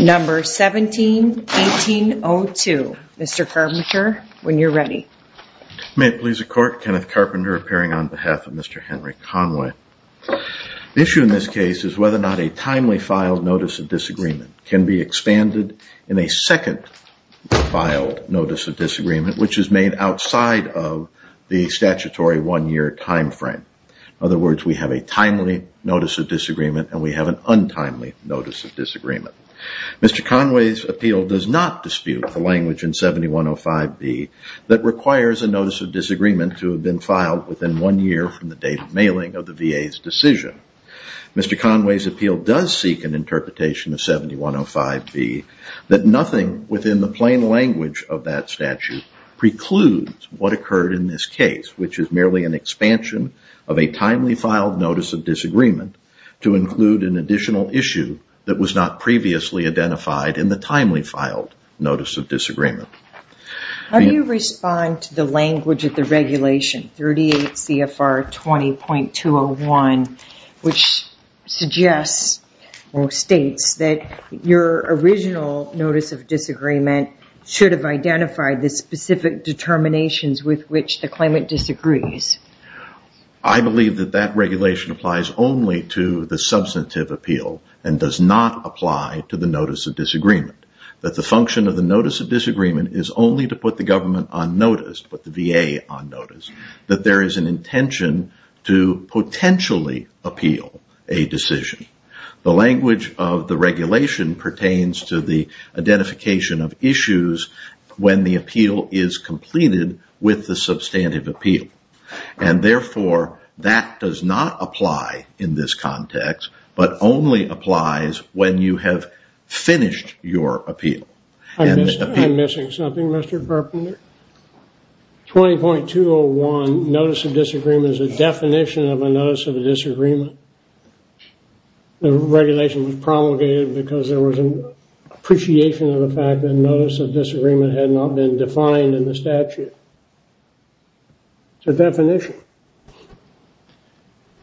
Number 17-1802, Mr. Carpenter, when you're ready. May it please the court, Kenneth Carpenter appearing on behalf of Mr. Henry Conway. The issue in this case is whether or not a timely filed notice of disagreement can be expanded in a second filed notice of disagreement, which is made outside of the statutory one-year time frame. In other words, we have a timely notice of disagreement, and we have an untimely notice of disagreement. Mr. Conway's appeal does not dispute the language in 7105B that requires a notice of disagreement to have been filed within one year from the date of mailing of the VA's decision. Mr. Conway's appeal does seek an interpretation of 7105B that nothing within the plain language of that statute precludes what occurred in this case, which is merely an expansion of a timely filed notice of disagreement to include an additional issue that was not previously identified in the timely filed notice of disagreement. How do you respond to the language of the regulation, 38 CFR 20.201, which states that your original notice of disagreement should have identified the specific determinations with which the claimant disagrees? I believe that that regulation applies only to the substantive appeal and does not apply to the notice of disagreement, that the function of the notice of disagreement is only to put the government on notice, put the VA on notice, that there is an intention to potentially appeal a decision. The language of the regulation pertains to the identification of issues when the appeal is completed with the substantive appeal. Therefore, that does not apply in this context, but only applies when you have finished your appeal. I'm missing something, Mr. Carpenter. 20.201 notice of disagreement is a definition of a notice of disagreement. The regulation was promulgated because there was an appreciation of the fact that a notice of disagreement had not been defined in the statute. It's a definition.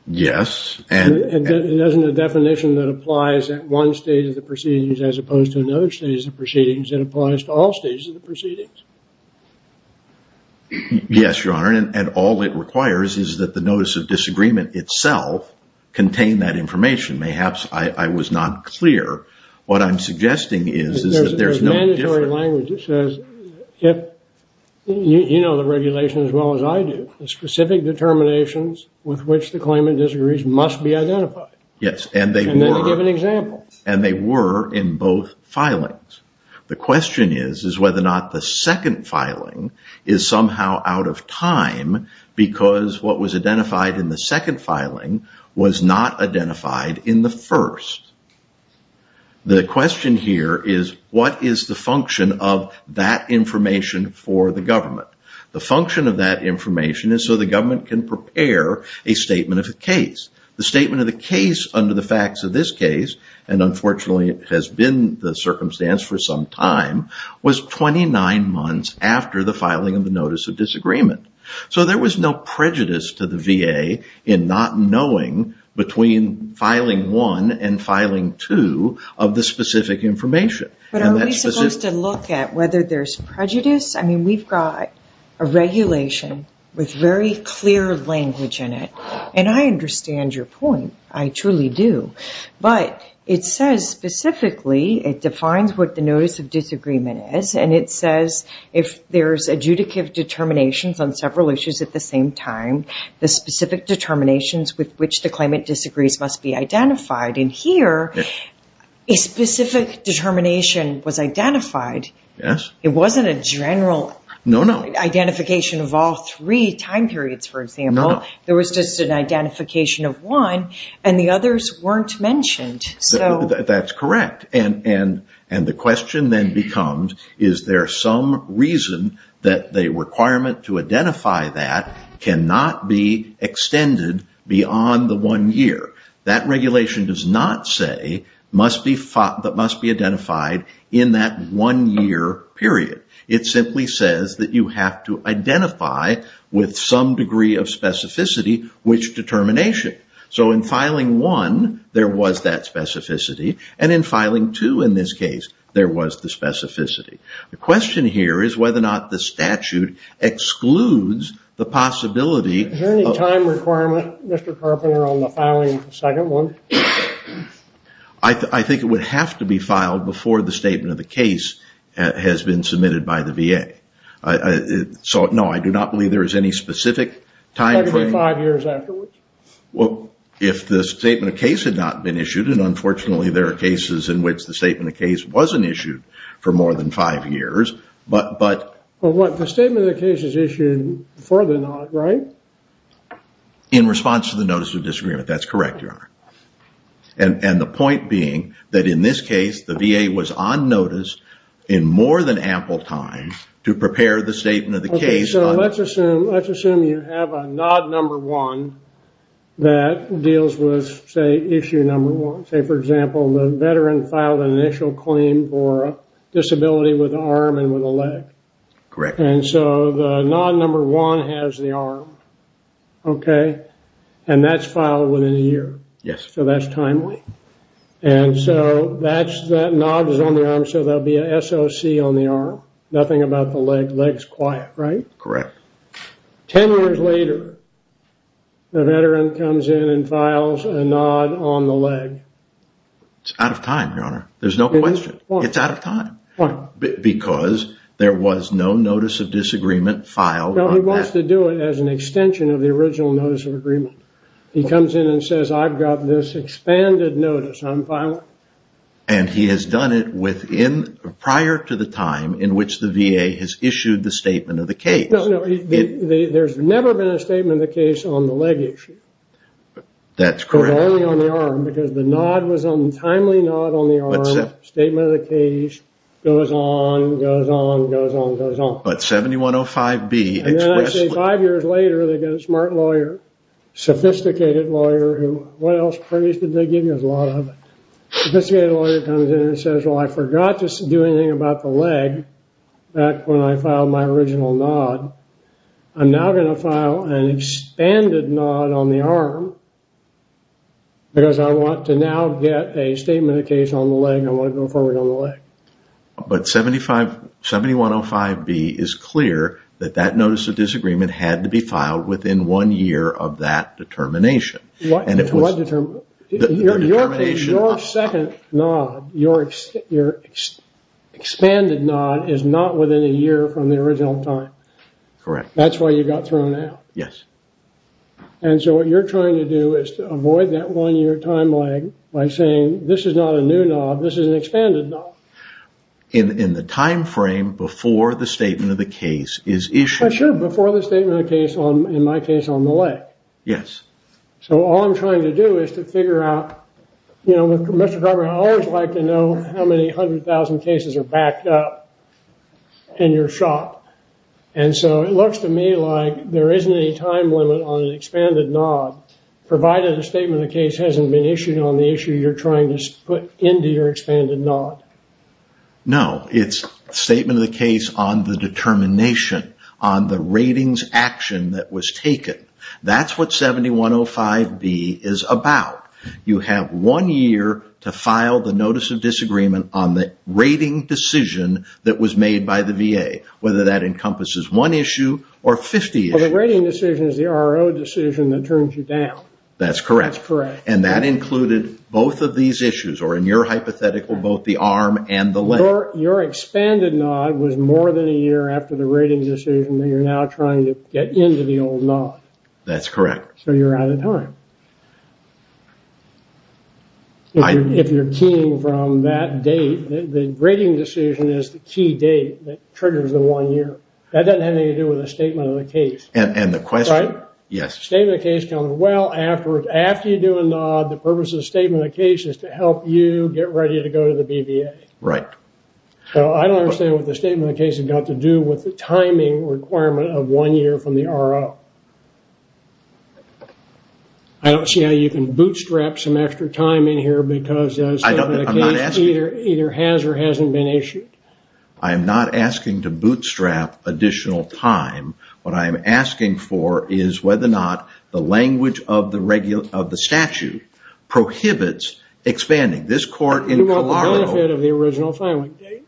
Yes. It doesn't have a definition that applies at one stage of the proceedings as opposed to another stage of the proceedings. It applies to all stages of the proceedings. Yes, Your Honor, and all it requires is that the notice of disagreement itself contain that information. I was not clear. What I'm suggesting is that there's no difference. There's mandatory language that says, you know the regulation as well as I do. The specific determinations with which the claimant disagrees must be identified. Yes, and they were. And then they give an example. And they were in both filings. The question is whether or not the second filing is somehow out of time because what was identified in the second filing was not identified in the first. The question here is what is the function of that information for the government? The function of that information is so the government can prepare a statement of the case. The statement of the case under the facts of this case, and unfortunately it has been the circumstance for some time, was 29 months after the filing of the notice of disagreement. So there was no prejudice to the VA in not knowing between filing one and filing two of the specific information. But are we supposed to look at whether there's prejudice? I mean we've got a regulation with very clear language in it, and I understand your point. I truly do. But it says specifically, it defines what the notice of disagreement is, and it says if there's adjudicative determinations on several issues at the same time, the specific determinations with which the claimant disagrees must be identified. And here a specific determination was identified. It wasn't a general identification of all three time periods, for example. There was just an identification of one, and the others weren't mentioned. That's correct. And the question then becomes, is there some reason that the requirement to identify that cannot be extended beyond the one year? That regulation does not say that must be identified in that one year period. It simply says that you have to identify with some degree of specificity which determination. So in filing one, there was that specificity. And in filing two in this case, there was the specificity. The question here is whether or not the statute excludes the possibility of Is there any time requirement, Mr. Carpenter, on the filing of the second one? I think it would have to be filed before the statement of the case has been submitted by the VA. No, I do not believe there is any specific time frame. Well, if the statement of case had not been issued, and unfortunately there are cases in which the statement of case wasn't issued for more than five years. But the statement of the case is issued for the not, right? In response to the notice of disagreement. That's correct, Your Honor. And the point being that in this case, the VA was on notice in more than ample time to prepare the statement of the case. So let's assume you have a nod number one that deals with, say, issue number one. Say, for example, the veteran filed an initial claim for a disability with an arm and with a leg. Correct. And so the nod number one has the arm, okay? And that's filed within a year. Yes. So that's timely. And so that nod is on the arm, so there will be a SOC on the arm. Nothing about the leg. Leg's quiet, right? Correct. Ten years later, the veteran comes in and files a nod on the leg. It's out of time, Your Honor. There's no question. It's out of time. Why? Because there was no notice of disagreement filed on that. Well, he wants to do it as an extension of the original notice of agreement. He comes in and says, I've got this expanded notice I'm filing. And he has done it prior to the time in which the VA has issued the statement of the case. No, no. There's never been a statement of the case on the leg issue. That's correct. It was only on the arm, because the nod was on the timely nod on the arm. Statement of the case goes on, goes on, goes on, goes on. But 7105B expressly... And then I say five years later, they get a smart lawyer, sophisticated lawyer, who... They give you a lot of it. A sophisticated lawyer comes in and says, well, I forgot to do anything about the leg back when I filed my original nod. I'm now going to file an expanded nod on the arm because I want to now get a statement of the case on the leg. I want to go forward on the leg. But 7105B is clear that that notice of disagreement had to be filed within one year of that determination. What determination? Your second nod, your expanded nod, is not within a year from the original time. Correct. That's why you got thrown out. Yes. And so what you're trying to do is to avoid that one-year time lag by saying, this is not a new nod, this is an expanded nod. In the time frame before the statement of the case is issued. Sure, before the statement of the case, in my case, on the leg. Yes. So all I'm trying to do is to figure out... You know, Mr. Carver, I always like to know how many hundred thousand cases are backed up in your shop. And so it looks to me like there isn't any time limit on an expanded nod, provided a statement of the case hasn't been issued on the issue you're trying to put into your expanded nod. No. It's a statement of the case on the determination, on the ratings action that was taken. That's what 7105B is about. You have one year to file the notice of disagreement on the rating decision that was made by the VA, whether that encompasses one issue or 50 issues. Well, the rating decision is the RO decision that turns you down. That's correct. That's correct. And that included both of these issues, or in your hypothetical, both the arm and the leg. Your expanded nod was more than a year after the rating decision, and you're now trying to get into the old nod. That's correct. So you're out of time. If you're keying from that date, the rating decision is the key date that triggers the one year. That doesn't have anything to do with a statement of the case. And the question... Right? Yes. Statement of the case counts well afterwards. After you do a nod, the purpose of the statement of the case is to help you get ready to go to the BVA. Right. So I don't understand what the statement of the case has got to do with the timing requirement of one year from the RO. I don't see how you can bootstrap some extra time in here because the case either has or hasn't been issued. I am not asking to bootstrap additional time. What I am asking for is whether or not the language of the statute prohibits expanding. You want the benefit of the original filing date?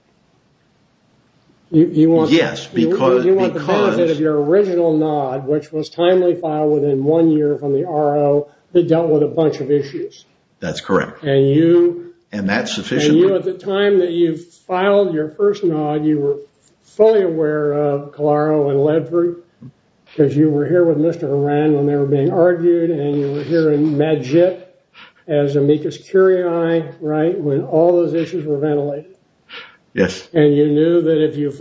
Yes, because... You want the benefit of your original nod, which was timely filed within one year from the RO. It dealt with a bunch of issues. That's correct. And you... And that's sufficient. And you, at the time that you filed your first nod, you were fully aware of Calaro and Ledford, because you were here with Mr. Horan when they were being argued, and you were here in MedJIT as amicus curiae, right, when all those issues were ventilated. Yes. And you knew that if you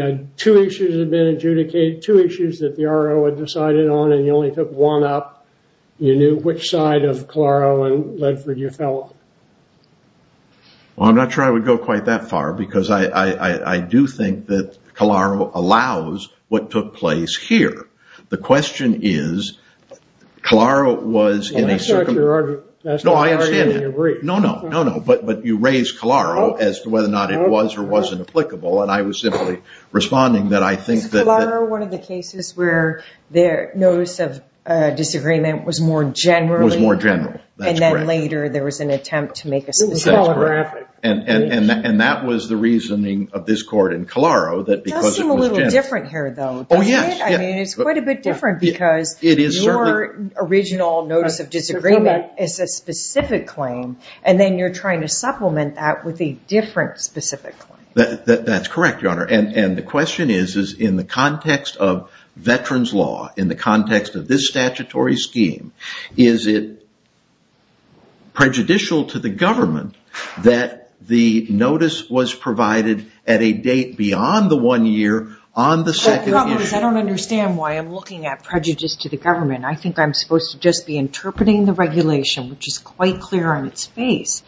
had two issues that had been adjudicated, two issues that the RO had decided on, and you only took one up, you knew which side of Calaro and Ledford you fell on. Well, I'm not sure I would go quite that far, because I do think that Calaro allows what took place here. The question is, Calaro was in a... That's not your argument. No, I understand that. No, no. No, no. But you raise Calaro as to whether or not it was or wasn't applicable, and I was simply responding that I think that... Is Calaro one of the cases where the notice of disagreement was more general? Was more general. That's correct. And then later there was an attempt to make a... It was calligraphic. And that was the reasoning of this court in Calaro, that because it was... It does seem a little different here, though, doesn't it? Oh, yes. I mean, it's quite a bit different, because your original notice of disagreement is a specific claim, and then you're trying to supplement that with a different specific claim. That's correct, Your Honor, and the question is, is in the context of veterans' law, in the context of this statutory scheme, is it prejudicial to the government that the notice was provided at a date beyond the one year on the second issue? The problem is I don't understand why I'm looking at prejudice to the government. I think I'm supposed to just be interpreting the regulation, which is quite clear on its face,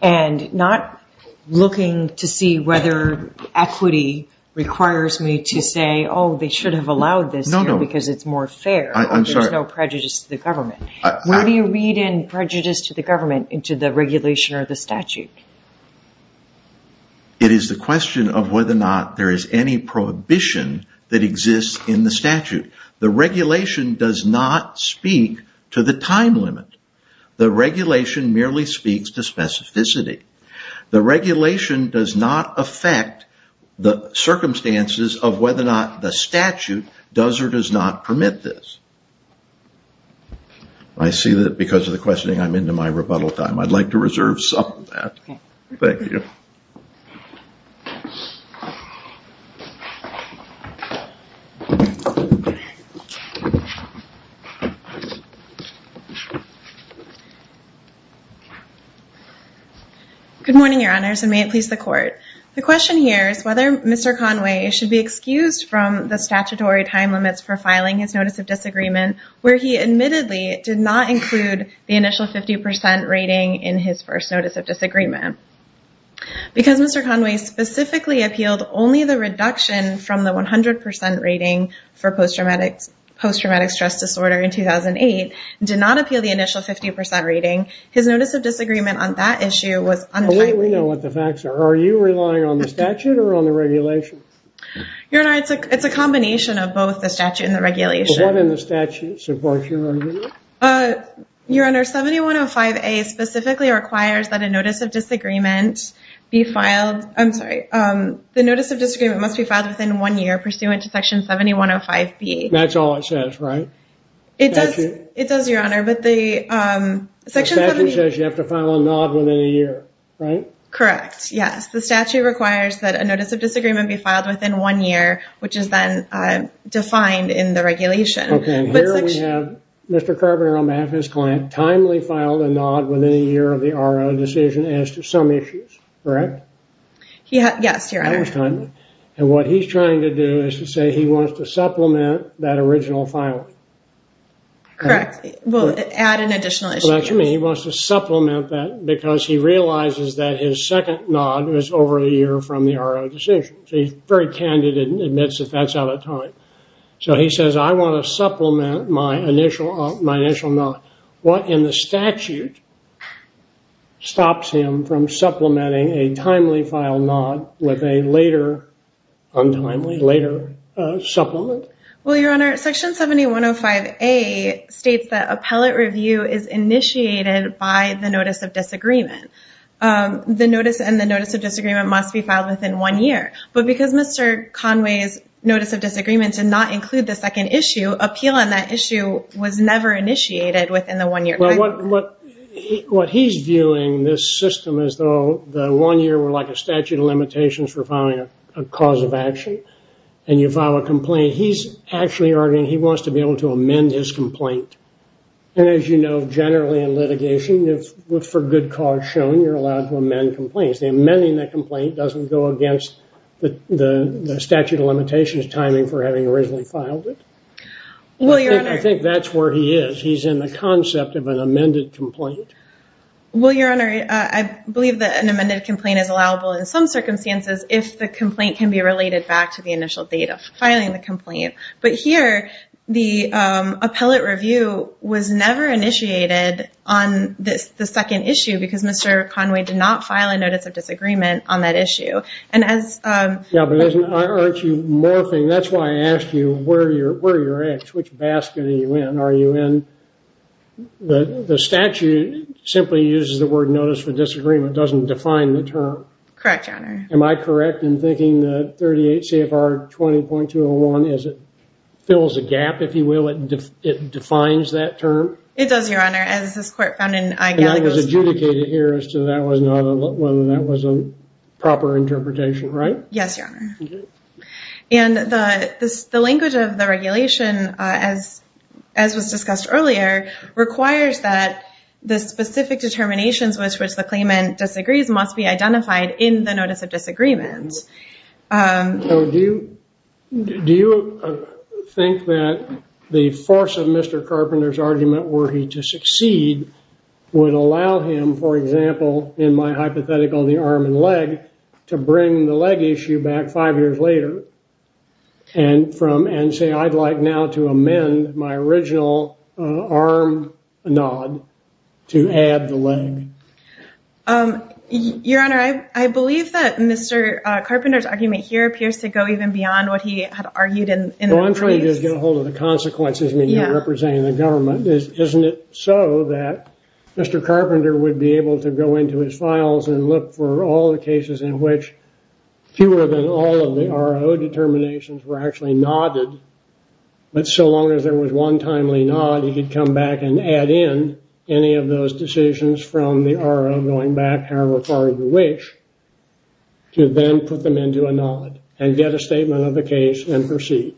and not looking to see whether equity requires me to say, oh, they should have allowed this here because it's more fair. No, no. There's no prejudice to the government. Where do you read in prejudice to the government into the regulation or the statute? It is the question of whether or not there is any prohibition that exists in the statute. The regulation does not speak to the time limit. The regulation merely speaks to specificity. The regulation does not affect the circumstances of whether or not the statute does or does not permit this. I see that because of the questioning, I'm into my rebuttal time. I'd like to reserve some of that. Thank you. Good morning, Your Honors, and may it please the Court. The question here is whether Mr. Conway should be excused from the statutory time limits for filing his Notice of Disagreement, where he admittedly did not include the initial 50% rating in his first Notice of Disagreement. Because Mr. Conway specifically appealed only the reduction from the 100% rating for post-traumatic stress disorder in 2008, and did not appeal the initial 50% rating, his Notice of Disagreement on that issue was untimely. We know what the facts are. Are you relying on the statute or on the regulation? Your Honor, it's a combination of both the statute and the regulation. What in the statute supports your argument? Your Honor, 7105A specifically requires that a Notice of Disagreement be filed. I'm sorry. The Notice of Disagreement must be filed within one year pursuant to Section 7105B. That's all it says, right? It does, Your Honor. The statute says you have to file a nod within a year, right? Correct, yes. The statute requires that a Notice of Disagreement be filed within one year, which is then defined in the regulation. Okay, and here we have Mr. Carbiner on behalf of his client, timely filed a nod within a year of the RO decision as to some issues, correct? Yes, Your Honor. That was timely. And what he's trying to do is to say he wants to supplement that original filing. Correct. Well, add an additional issue here. And he wants to supplement that because he realizes that his second nod was over a year from the RO decision. So he's very candid and admits that that's out of time. So he says, I want to supplement my initial nod. What in the statute stops him from supplementing a timely file nod with a later, untimely, later supplement? Well, Your Honor, Section 7105A states that appellate review is initiated by the Notice of Disagreement. The notice and the Notice of Disagreement must be filed within one year. But because Mr. Conway's Notice of Disagreement did not include the second issue, appeal on that issue was never initiated within the one-year period. What he's viewing this system as though the one year were like a statute of limitations for filing a cause of action, and you file a complaint, he's actually arguing he wants to be able to amend his complaint. And as you know, generally in litigation, if for good cause shown, you're allowed to amend complaints. The amending that complaint doesn't go against the statute of limitations timing for having originally filed it. I think that's where he is. He's in the concept of an amended complaint. Well, Your Honor, I believe that an amended complaint is allowable in some circumstances if the complaint can be related back to the initial date of filing the complaint. But here, the appellate review was never initiated on the second issue because Mr. Conway did not file a Notice of Disagreement on that issue. And as- Yeah, but I urge you more thing. That's why I asked you, where are your eggs? Which basket are you in? The statute simply uses the word Notice of Disagreement. It doesn't define the term. Correct, Your Honor. Am I correct in thinking that 38 CFR 20.201 fills a gap, if you will? It defines that term? It does, Your Honor, as this court found in- And that was adjudicated here as to whether that was a proper interpretation, right? Yes, Your Honor. And the language of the regulation, as was discussed earlier, requires that the specific determinations with which the claimant disagrees must be identified in the Notice of Disagreement. So do you think that the force of Mr. Carpenter's argument were he to succeed would allow him, for example, in my hypothetical, the arm and leg, to bring the leg issue back five years later and say, I'd like now to amend my original arm nod to add the leg? Your Honor, I believe that Mr. Carpenter's argument here appears to go even beyond what he had argued in- Well, I'm trying to just get a hold of the consequences when you're representing the government. Isn't it so that Mr. Carpenter would be able to go into his files and look for all the cases in which fewer than all of the RO determinations were actually nodded, but so long as there was one timely nod, he could come back and add in any of those decisions from the RO going back however far you wish to then put them into a nod and get a statement of the case and proceed?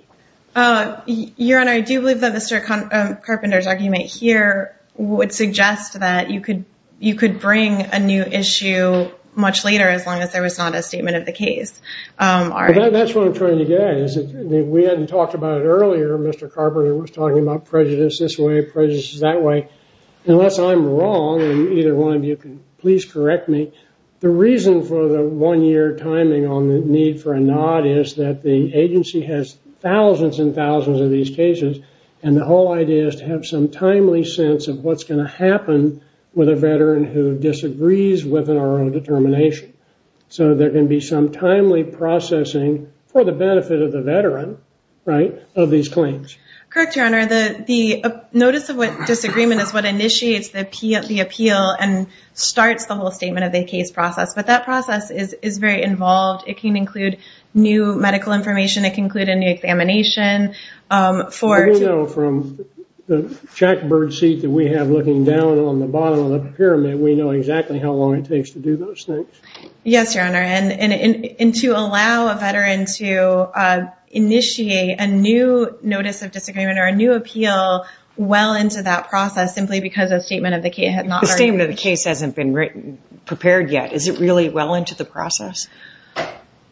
Your Honor, I do believe that Mr. Carpenter's argument here would suggest that you could bring a new issue much later as long as there was not a statement of the case. That's what I'm trying to get at. We hadn't talked about it earlier. Mr. Carpenter was talking about prejudice this way, prejudice that way. Unless I'm wrong, and either one of you can please correct me, the reason for the one-year timing on the need for a nod is that the agency has thousands and thousands of these cases, and the whole idea is to have some timely sense of what's going to happen with a veteran who disagrees with an RO determination, so there can be some timely processing for the benefit of the veteran of these claims. Correct, Your Honor. The notice of disagreement is what initiates the appeal and starts the whole statement of the case process, but that process is very involved. It can include new medical information. It can include a new examination for... We know from the jackbird seat that we have looking down on the bottom of the pyramid, we know exactly how long it takes to do those things. Yes, Your Honor, and to allow a veteran to initiate a new notice of disagreement or a new appeal well into that process simply because a statement of the case had not already... The statement of the case hasn't been prepared yet. Is it really well into the process?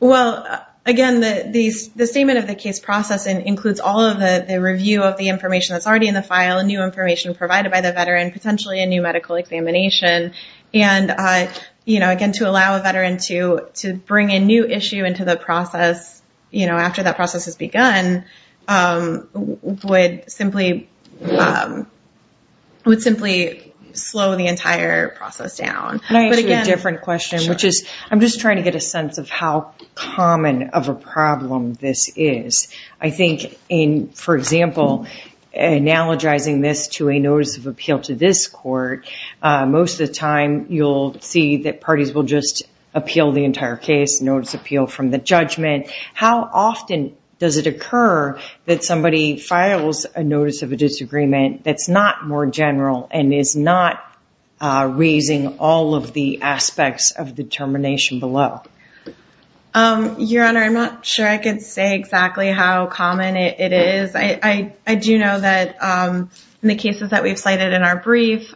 Well, again, the statement of the case process includes all of the review of the information that's already in the file and new information provided by the veteran, potentially a new medical examination, and again, to allow a veteran to bring a new issue into the process after that process has begun would simply slow the entire process down. Can I ask you a different question, which is... I'm trying to get a sense of how common of a problem this is. I think, for example, analogizing this to a notice of appeal to this court, most of the time you'll see that parties will just appeal the entire case, notice appeal from the judgment. How often does it occur that somebody files a notice of a disagreement that's not more general and is not raising all of the aspects of determination below? Your Honor, I'm not sure I can say exactly how common it is. I do know that in the cases that we've cited in our brief,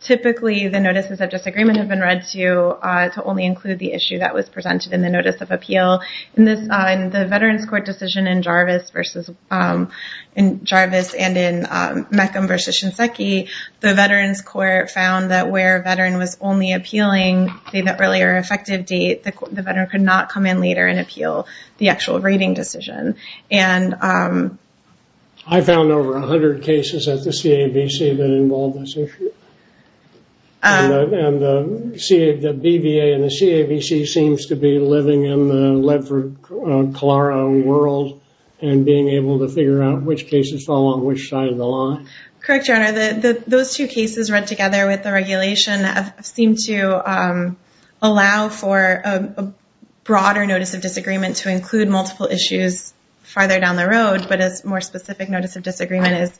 typically the notices of disagreement have been read to only include the issue that was presented in the notice of appeal. In the Veterans Court decision in Jarvis and in Mecham versus Shinseki, the Veterans Court found that where a veteran was only appealing the earlier effective date, the veteran could not come in later and appeal the actual rating decision. I found over 100 cases at the CAVC that involved this issue. The BVA and the CAVC seems to be living in the Ledford-Colaro world and being able to figure out which cases fall on which side of the line. Correct, Your Honor. Those two cases read together with the regulation seem to allow for a broader notice of disagreement to include multiple issues farther down the road. But a more specific notice of disagreement is,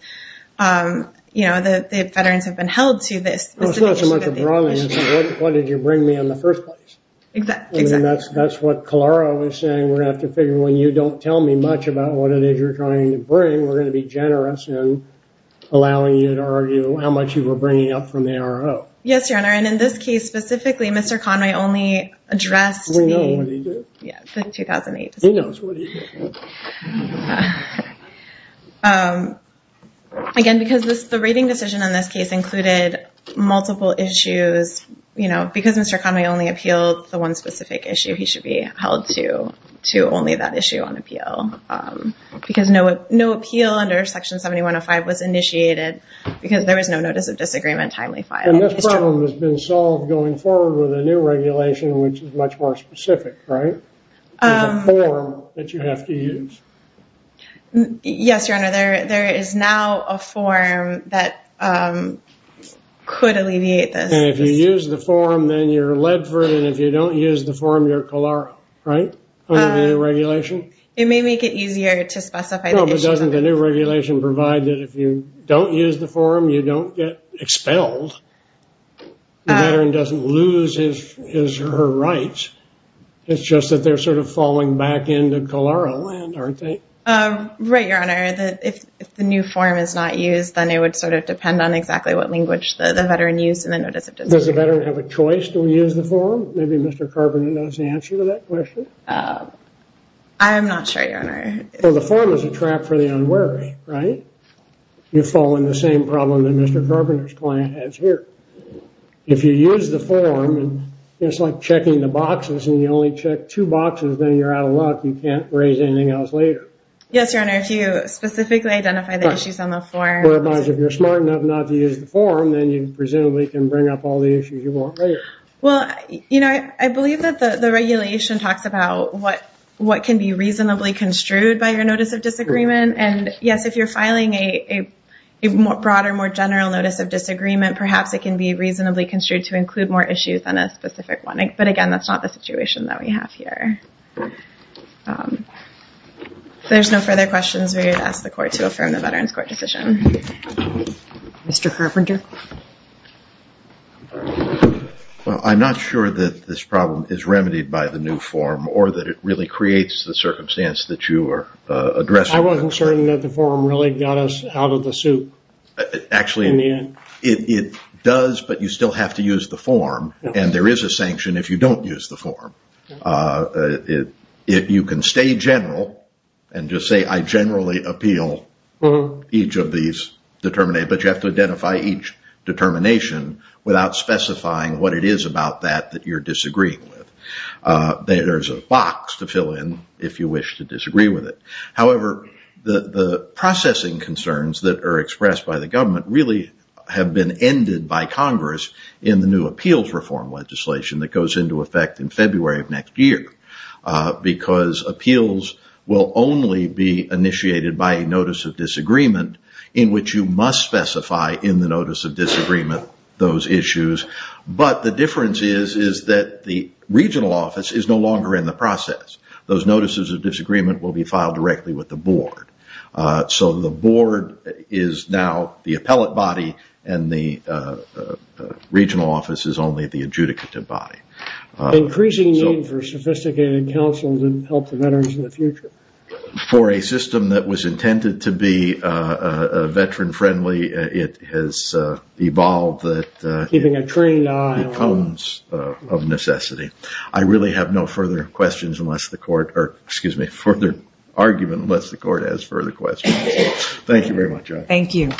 you know, the veterans have been held to this specific issue. It's not so much a broader issue. What did you bring me in the first place? Exactly. That's what Colaro is saying. We're going to have to figure when you don't tell me much about what it is you're trying to bring, we're going to be generous in allowing you to argue how much you were bringing up from the ARO. Yes, Your Honor, and in this case specifically, Mr. Conway only addressed the We know what he did. Yeah, the 2008 decision. He knows what he did. Again, because the rating decision in this case included multiple issues, you know, because Mr. Conway only appealed the one specific issue, he should be held to only that issue on appeal. Because no appeal under Section 7105 was initiated because there was no notice of disagreement timely filed. And this problem has been solved going forward with a new regulation, which is much more specific, right? There's a form that you have to use. Yes, Your Honor, there is now a form that could alleviate this. And if you use the form, then you're led for it, and if you don't use the form, you're COLARO, right, under the new regulation? It may make it easier to specify the issue. No, but doesn't the new regulation provide that if you don't use the form, you don't get expelled? The veteran doesn't lose his or her rights. It's just that they're sort of falling back into COLARO land, aren't they? Right, Your Honor, if the new form is not used, then it would sort of depend on exactly what language the veteran used in the notice of disagreement. Does the veteran have a choice to use the form? Maybe Mr. Carpenter knows the answer to that question. I'm not sure, Your Honor. Well, the form is a trap for the unwary, right? You fall in the same problem that Mr. Carpenter's client has here. If you use the form, it's like checking the boxes, and you only check two boxes, then you're out of luck. You can't raise anything else later. Yes, Your Honor, if you specifically identify the issues on the form. Whereas if you're smart enough not to use the form, then you presumably can bring up all the issues you want later. Well, you know, I believe that the regulation talks about what can be reasonably construed by your notice of disagreement. And, yes, if you're filing a broader, more general notice of disagreement, perhaps it can be reasonably construed to include more issues than a specific one. But, again, that's not the situation that we have here. If there's no further questions, we would ask the Court to affirm the Veterans Court decision. Mr. Carpenter. Well, I'm not sure that this problem is remedied by the new form, or that it really creates the circumstance that you are addressing. I wasn't certain that the form really got us out of the soup. Actually, it does, but you still have to use the form, and there is a sanction if you don't use the form. If you can stay general and just say, I generally appeal each of these determinations, but you have to identify each determination without specifying what it is about that that you're disagreeing with. There's a box to fill in if you wish to disagree with it. However, the processing concerns that are expressed by the government really have been ended by Congress in the new appeals reform legislation that goes into effect in February of next year, because appeals will only be initiated by a notice of disagreement in which you must specify in the notice of disagreement those issues. But the difference is that the regional office is no longer in the process. Those notices of disagreement will be filed directly with the board. So the board is now the appellate body, and the regional office is only the adjudicative body. Increasing need for sophisticated counsel to help the veterans in the future. For a system that was intended to be veteran-friendly, it has evolved that it becomes of necessity. I really have no further questions unless the court, or excuse me, further argument unless the court has further questions. Thank you very much. Thank you.